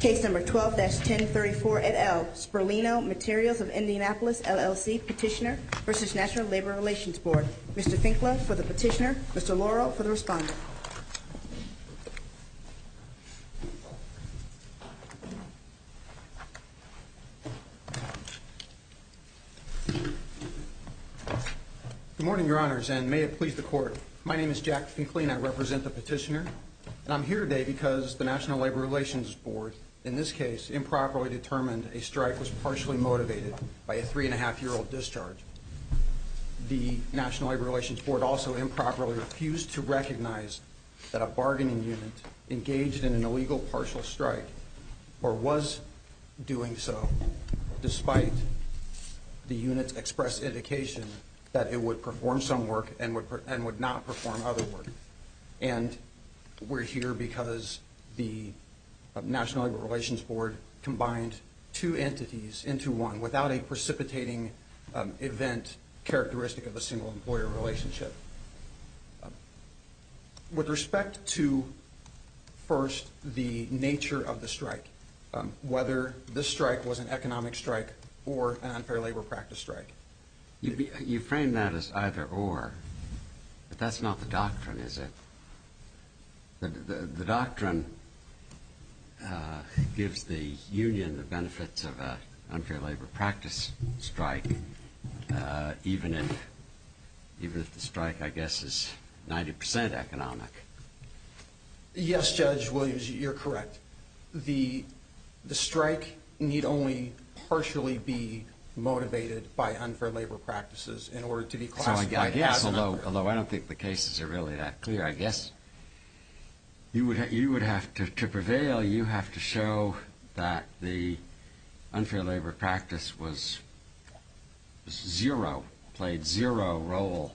Case number 12-1034 at L. Spurlino Materials of Indianapolis LLC Petitioner v. National Labor Relations Board. Mr. Finkla for the petitioner, Mr. Laurel for the respondent. Good morning, your honors, and may it please the court. My name is Jack Finkley, and I represent the petitioner. And I'm here today because the National Labor Relations Board, in this case, improperly determined a strike was partially motivated by a three-and-a-half-year-old discharge. The National Labor Relations Board also improperly refused to recognize that a bargaining unit engaged in an illegal partial strike, or was doing so, despite the unit's express indication that it would perform some work and would not perform other work. And we're here because the National Labor Relations Board combined two entities into one without a precipitating event characteristic of a single-employer relationship. With respect to, first, the nature of the strike, whether the strike was an economic strike or an unfair labor practice strike. You frame that as either-or, but that's not the doctrine, is it? The doctrine gives the union the benefits of an unfair labor practice strike, even if the strike, I guess, is 90 percent economic. Yes, Judge Williams, you're correct. The strike need only partially be motivated by unfair labor practices in order to be classified- Although I don't think the cases are really that clear, I guess. You would have to prevail. You have to show that the unfair labor practice was zero, played zero role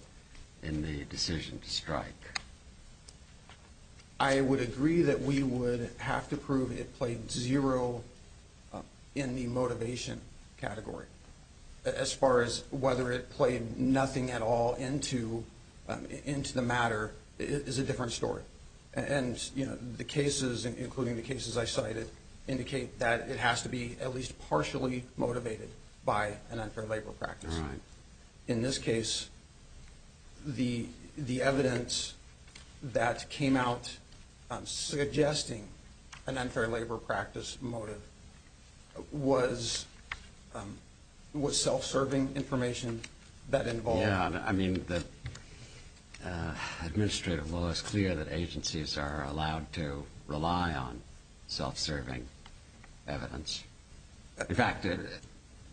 in the decision to strike. I would agree that we would have to prove it played zero in the motivation category. As far as whether it played nothing at all into the matter is a different story. And the cases, including the cases I cited, indicate that it has to be at least partially motivated by an unfair labor practice. In this case, the evidence that came out suggesting an unfair labor practice motive was self-serving information that involved- Yeah, I mean, the administrative law is clear that agencies are allowed to rely on self-serving evidence. In fact,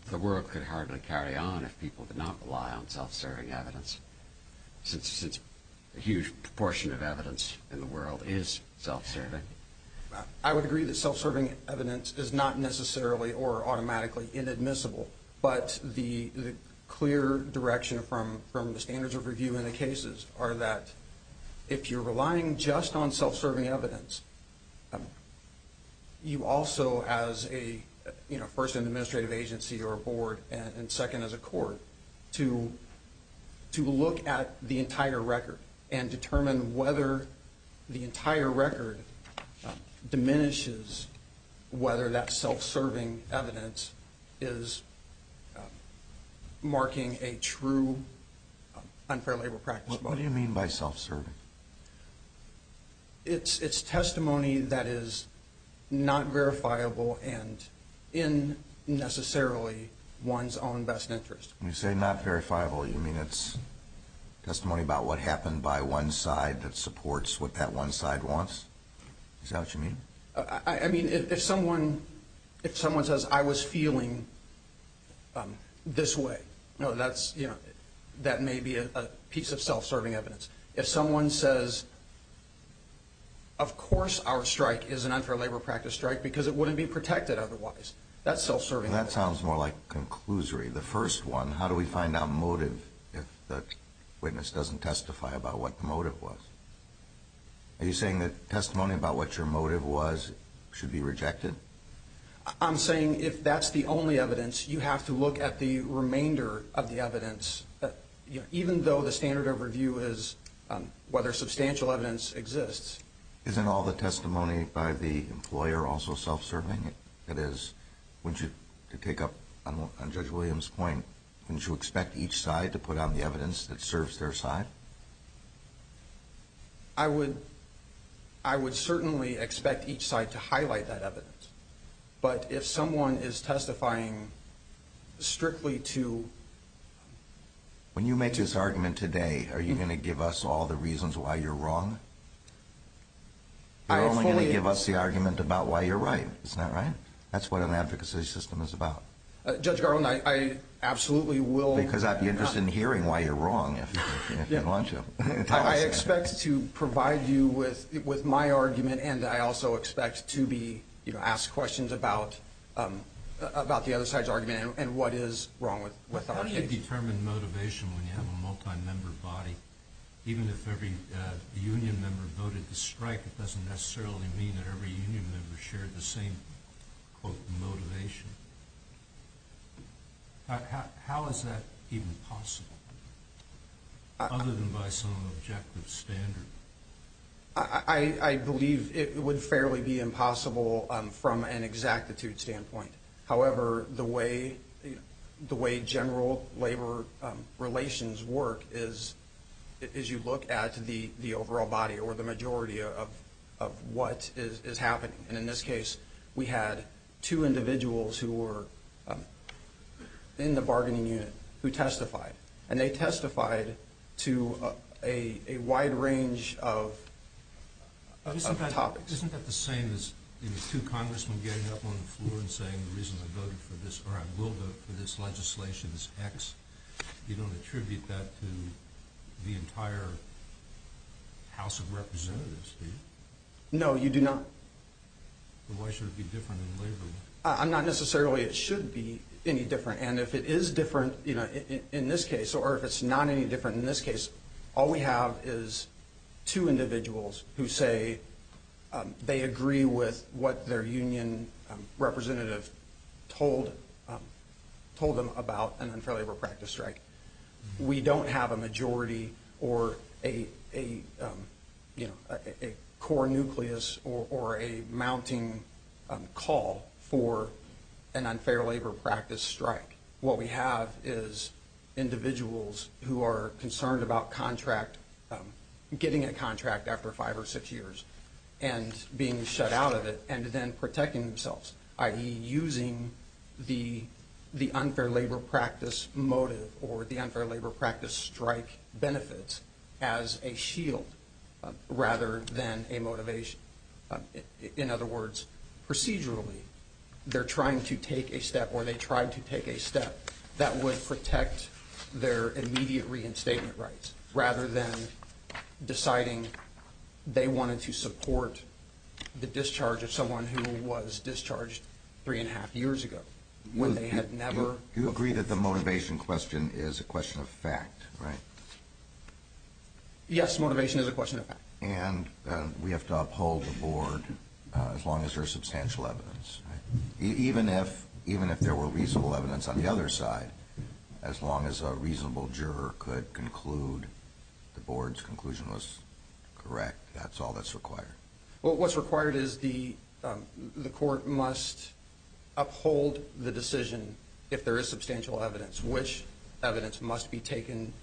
the world could hardly carry on if people did not rely on self-serving evidence, since a huge proportion of evidence in the world is self-serving. I would agree that self-serving evidence is not necessarily or automatically inadmissible. But the clear direction from the standards of review in the cases are that if you're relying just on self-serving evidence, you also, as a person in an administrative agency or a board and second as a court, to look at the entire record and determine whether the entire record diminishes whether that self-serving evidence is marking a true unfair labor practice motive. What do you mean by self-serving? It's testimony that is not verifiable and in necessarily one's own best interest. When you say not verifiable, you mean it's testimony about what happened by one side that supports what that one side wants? Is that what you mean? I mean, if someone says, I was feeling this way, that may be a piece of self-serving evidence. If someone says, of course our strike is an unfair labor practice strike because it wouldn't be protected otherwise, that's self-serving evidence. Well, that sounds more like a conclusory. The first one, how do we find out motive if the witness doesn't testify about what the motive was? Are you saying that testimony about what your motive was should be rejected? I'm saying if that's the only evidence, you have to look at the remainder of the evidence, even though the standard of review is whether substantial evidence exists. Isn't all the testimony by the employer also self-serving? That is, to pick up on Judge Williams' point, wouldn't you expect each side to put on the evidence that serves their side? I would certainly expect each side to highlight that evidence. But if someone is testifying strictly to... When you make this argument today, are you going to give us all the reasons why you're wrong? You're only going to give us the argument about why you're right, isn't that right? That's what an advocacy system is about. Judge Garland, I absolutely will... Because I'd be interested in hearing why you're wrong if you want to. I expect to provide you with my argument, and I also expect to be asked questions about the other side's argument and what is wrong with our case. How do you determine motivation when you have a multi-member body? Even if every union member voted to strike, it doesn't necessarily mean that every union member shared the same, quote, motivation. How is that even possible, other than by some objective standard? I believe it would fairly be impossible from an exactitude standpoint. However, the way general labor relations work is you look at the overall body or the majority of what is happening. And in this case, we had two individuals who were in the bargaining unit who testified, and they testified to a wide range of topics. Isn't that the same as two congressmen getting up on the floor and saying the reason I voted for this, or I will vote for this legislation is X? You don't attribute that to the entire House of Representatives, do you? No, you do not. Then why should it be different in labor law? Not necessarily it should be any different. And if it is different in this case, or if it's not any different in this case, all we have is two individuals who say they agree with what their union representative told them about an unfair labor practice strike. We don't have a majority or a core nucleus or a mounting call for an unfair labor practice strike. What we have is individuals who are concerned about contract, getting a contract after five or six years and being shut out of it and then protecting themselves, i.e. using the unfair labor practice motive or the unfair labor practice strike benefits as a shield rather than a motivation. In other words, procedurally, they're trying to take a step or they tried to take a step that would protect their immediate reinstatement rights rather than deciding they wanted to support the discharge of someone who was discharged three and a half years ago when they had never... You agree that the motivation question is a question of fact, right? Yes, motivation is a question of fact. And we have to uphold the board as long as there's substantial evidence. Even if there were reasonable evidence on the other side, as long as a reasonable juror could conclude the board's conclusion was correct, that's all that's required. Well, what's required is the court must uphold the decision if there is substantial evidence, which evidence must be taken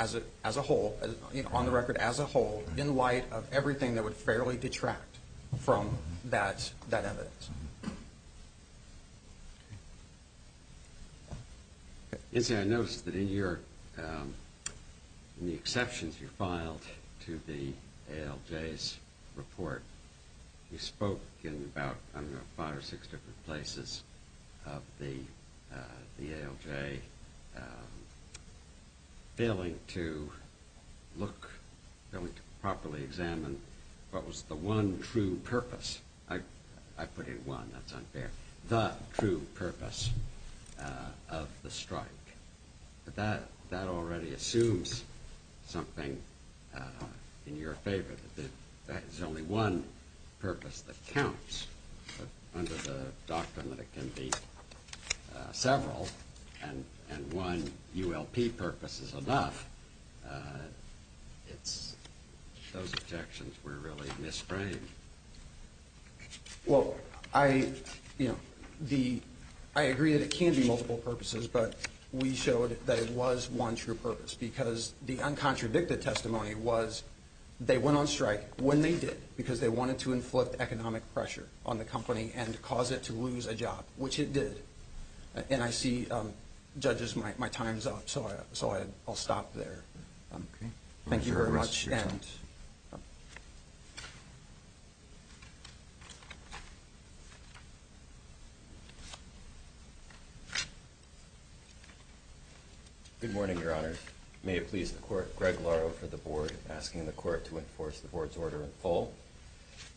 on the record as a whole in light of everything that would fairly detract from that evidence. Okay. The true purpose of the strike. But that already assumes something in your favor, that there's only one purpose that counts. But under the doctrine that it can be several and one ULP purpose is enough, those objections were really misframed. Well, I agree that it can be multiple purposes, but we showed that it was one true purpose because the uncontradicted testimony was they went on strike when they did because they wanted to inflict economic pressure on the company and cause it to lose a job, which it did. And I see, judges, my time's up, so I'll stop there. Okay. Thank you very much. Mr. Towns. Good morning, Your Honors. May it please the court, Greg Laro for the board, asking the court to enforce the board's order in full.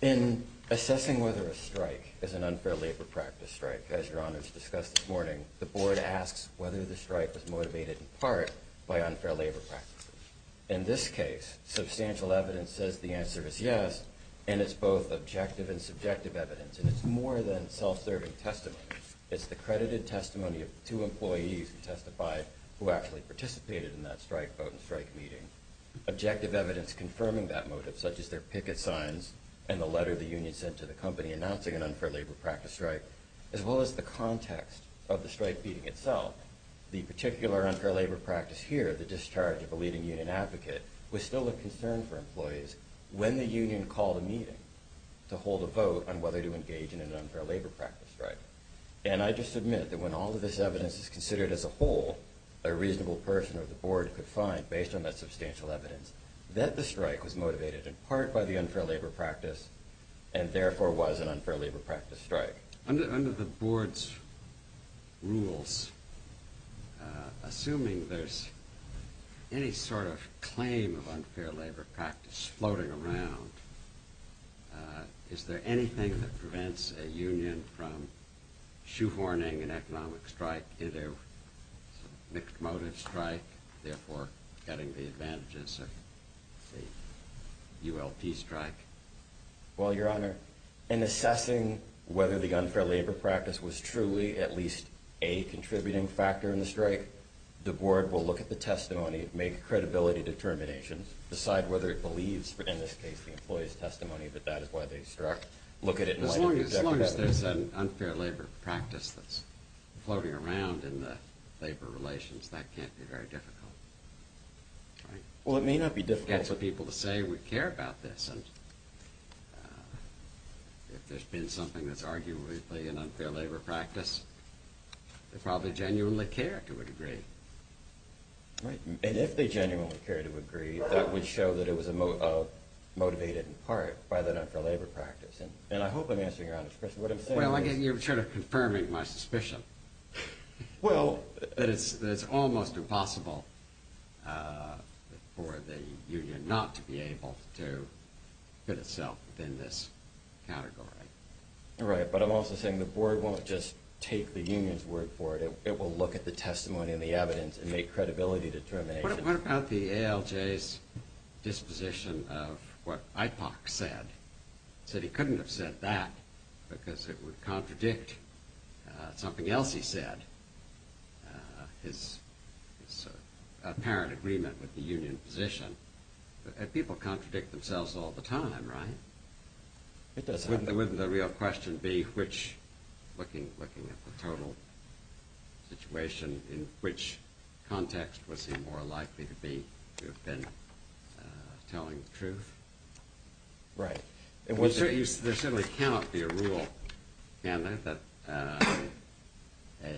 In assessing whether a strike is an unfair labor practice strike, as Your Honors discussed this morning, the board asks whether the strike was motivated in part by unfair labor practices. In this case, substantial evidence says the answer is yes, and it's both objective and subjective evidence, and it's more than self-serving testimony. It's the credited testimony of two employees who testified who actually participated in that strike vote and strike meeting. Objective evidence confirming that motive, such as their picket signs and the letter the union sent to the company announcing an unfair labor practice strike, as well as the context of the strike meeting itself. The particular unfair labor practice here, the discharge of a leading union advocate, was still a concern for employees when the union called a meeting to hold a vote on whether to engage in an unfair labor practice strike. And I just admit that when all of this evidence is considered as a whole, a reasonable person or the board could find, based on that substantial evidence, that the strike was motivated in part by the unfair labor practice, and therefore was an unfair labor practice strike. Under the board's rules, assuming there's any sort of claim of unfair labor practice floating around, is there anything that prevents a union from shoehorning an economic strike into a mixed motive strike, therefore getting the advantages of a ULP strike? Well, your honor, in assessing whether the unfair labor practice was truly at least a contributing factor in the strike, the board will look at the testimony, make credibility determinations, decide whether it believes, in this case, the employee's testimony that that is why they struck, look at it and let it be a declaration. As long as there's an unfair labor practice that's floating around in the labor relations, that can't be very difficult. Well, it may not be difficult. We get some people to say we care about this. And if there's been something that's arguably an unfair labor practice, they probably genuinely care to a degree. Right. And if they genuinely care to agree, that would show that it was motivated in part by the unfair labor practice. And I hope I'm answering your honor's question. Well, again, you're sort of confirming my suspicion that it's almost impossible for the union not to be able to fit itself within this category. Right. But I'm also saying the board won't just take the union's word for it. It will look at the testimony and the evidence and make credibility determinations. What about the ALJ's disposition of what IPOC said? It said he couldn't have said that because it would contradict something else he said, his apparent agreement with the union position. And people contradict themselves all the time, right? It does happen. Wouldn't the real question be which, looking at the total situation, in which context was he more likely to have been telling the truth? Right. There certainly cannot be a rule, can there, that a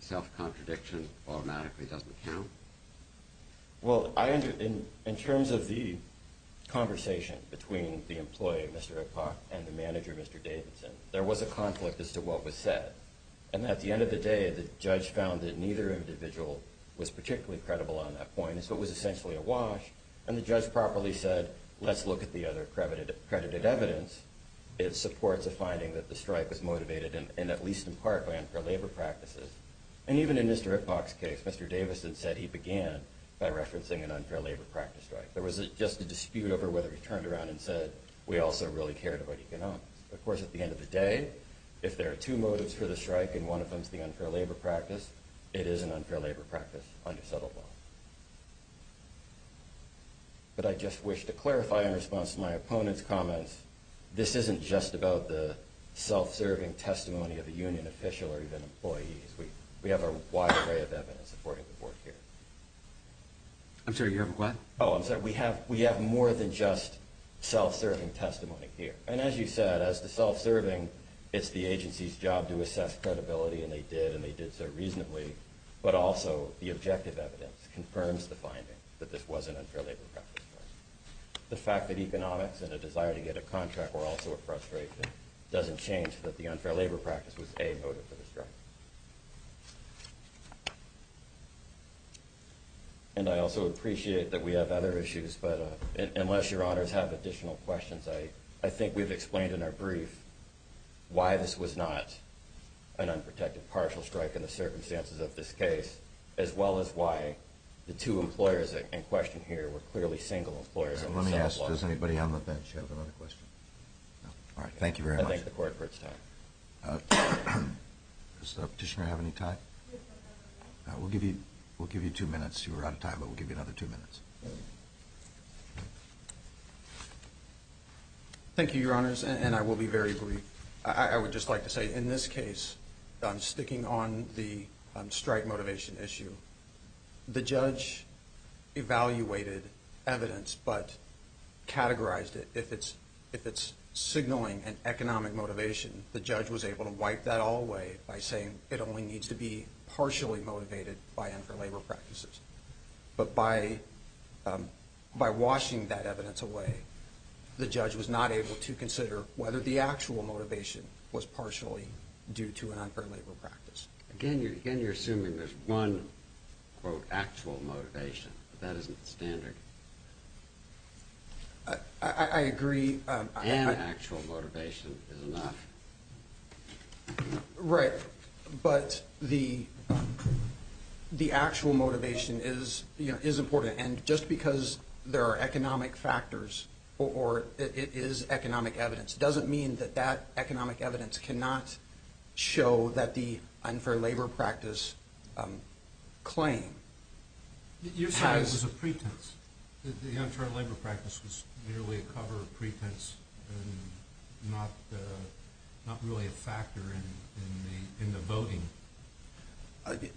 self-contradiction automatically doesn't count? Well, in terms of the conversation between the employee, Mr. IPOC, and the manager, Mr. Davidson, there was a conflict as to what was said. And at the end of the day, the judge found that neither individual was particularly credible on that point. And so it was essentially a wash. And the judge properly said, let's look at the other accredited evidence. It supports a finding that the strike was motivated in at least in part by unfair labor practices. And even in Mr. IPOC's case, Mr. Davidson said he began by referencing an unfair labor practice strike. There was just a dispute over whether he turned around and said, we also really cared about economics. Of course, at the end of the day, if there are two motives for the strike and one of them is the unfair labor practice, it is an unfair labor practice, undisputable. But I just wish to clarify in response to my opponent's comments, this isn't just about the self-serving testimony of a union official or even employees. We have a wide array of evidence supporting the board here. I'm sorry, you have a question? Oh, I'm sorry. We have more than just self-serving testimony here. And as you said, as to self-serving, it's the agency's job to assess credibility, and they did, and they did so reasonably. But also the objective evidence confirms the finding that this was an unfair labor practice. The fact that economics and a desire to get a contract were also a frustration doesn't change that the unfair labor practice was a motive for the strike. And I also appreciate that we have other issues. But unless your honors have additional questions, I think we've explained in our brief why this was not an unprotected partial strike in the circumstances of this case, as well as why the two employers in question here were clearly single employers. Let me ask, does anybody on the bench have another question? All right, thank you very much. I thank the court for its time. Does the petitioner have any time? We'll give you two minutes. You're out of time, but we'll give you another two minutes. Thank you, your honors, and I will be very brief. I would just like to say in this case, sticking on the strike motivation issue, the judge evaluated evidence but categorized it. If it's signaling an economic motivation, the judge was able to wipe that all away by saying it only needs to be partially motivated by unfair labor practices. But by washing that evidence away, the judge was not able to consider whether the actual motivation was partially due to an unfair labor practice. Again, you're assuming there's one, quote, actual motivation. That isn't standard. I agree. And actual motivation is enough. Right. But the actual motivation is important. And just because there are economic factors or it is economic evidence doesn't mean that that economic evidence cannot show that the unfair labor practice claim has – The unfair labor practice was merely a cover of pretense and not really a factor in the voting.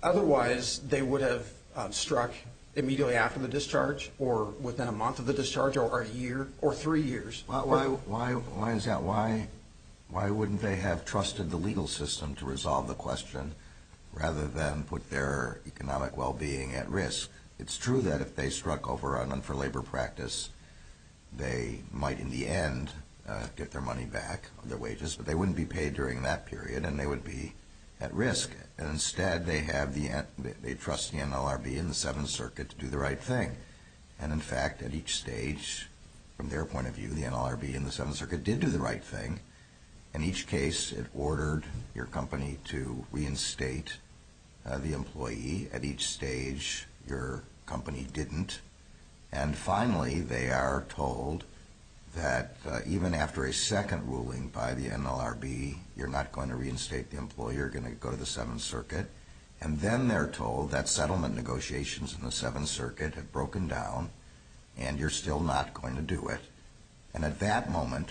Otherwise, they would have struck immediately after the discharge or within a month of the discharge or a year or three years. Why is that? Why wouldn't they have trusted the legal system to resolve the question rather than put their economic well-being at risk? Because it's true that if they struck over an unfair labor practice, they might in the end get their money back, their wages, but they wouldn't be paid during that period and they would be at risk. And instead, they have the – they trust the NLRB and the Seventh Circuit to do the right thing. And in fact, at each stage, from their point of view, the NLRB and the Seventh Circuit did do the right thing. In each case, it ordered your company to reinstate the employee. At each stage, your company didn't. And finally, they are told that even after a second ruling by the NLRB, you're not going to reinstate the employee. You're going to go to the Seventh Circuit. And then they're told that settlement negotiations in the Seventh Circuit have broken down and you're still not going to do it. And at that moment,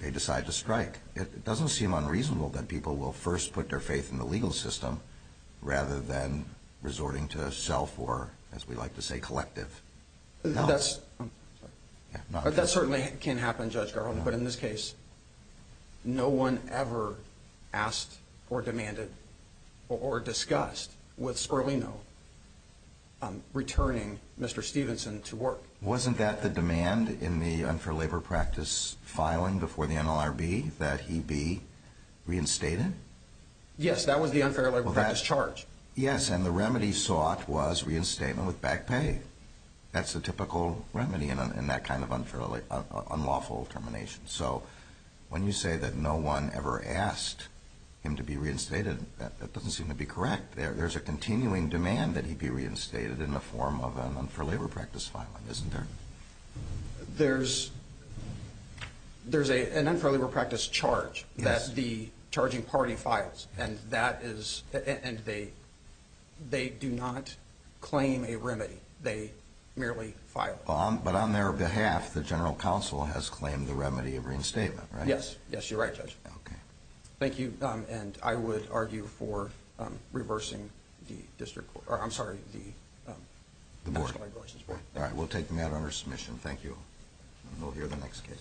they decide to strike. It doesn't seem unreasonable that people will first put their faith in the legal system rather than resorting to self or, as we like to say, collective. No. That certainly can happen, Judge Garland. But in this case, no one ever asked or demanded or discussed with Sperlino returning Mr. Stevenson to work. Wasn't that the demand in the unfair labor practice filing before the NLRB that he be reinstated? Yes, that was the unfair labor practice charge. Yes, and the remedy sought was reinstatement with back pay. That's the typical remedy in that kind of unlawful termination. So when you say that no one ever asked him to be reinstated, that doesn't seem to be correct. There's a continuing demand that he be reinstated in the form of an unfair labor practice filing, isn't there? There's an unfair labor practice charge that the charging party files, and they do not claim a remedy. They merely file it. But on their behalf, the general counsel has claimed the remedy of reinstatement, right? Yes. Yes, you're right, Judge. Thank you, and I would argue for reversing the board. All right, we'll take the matter under submission. Thank you. We'll hear the next case.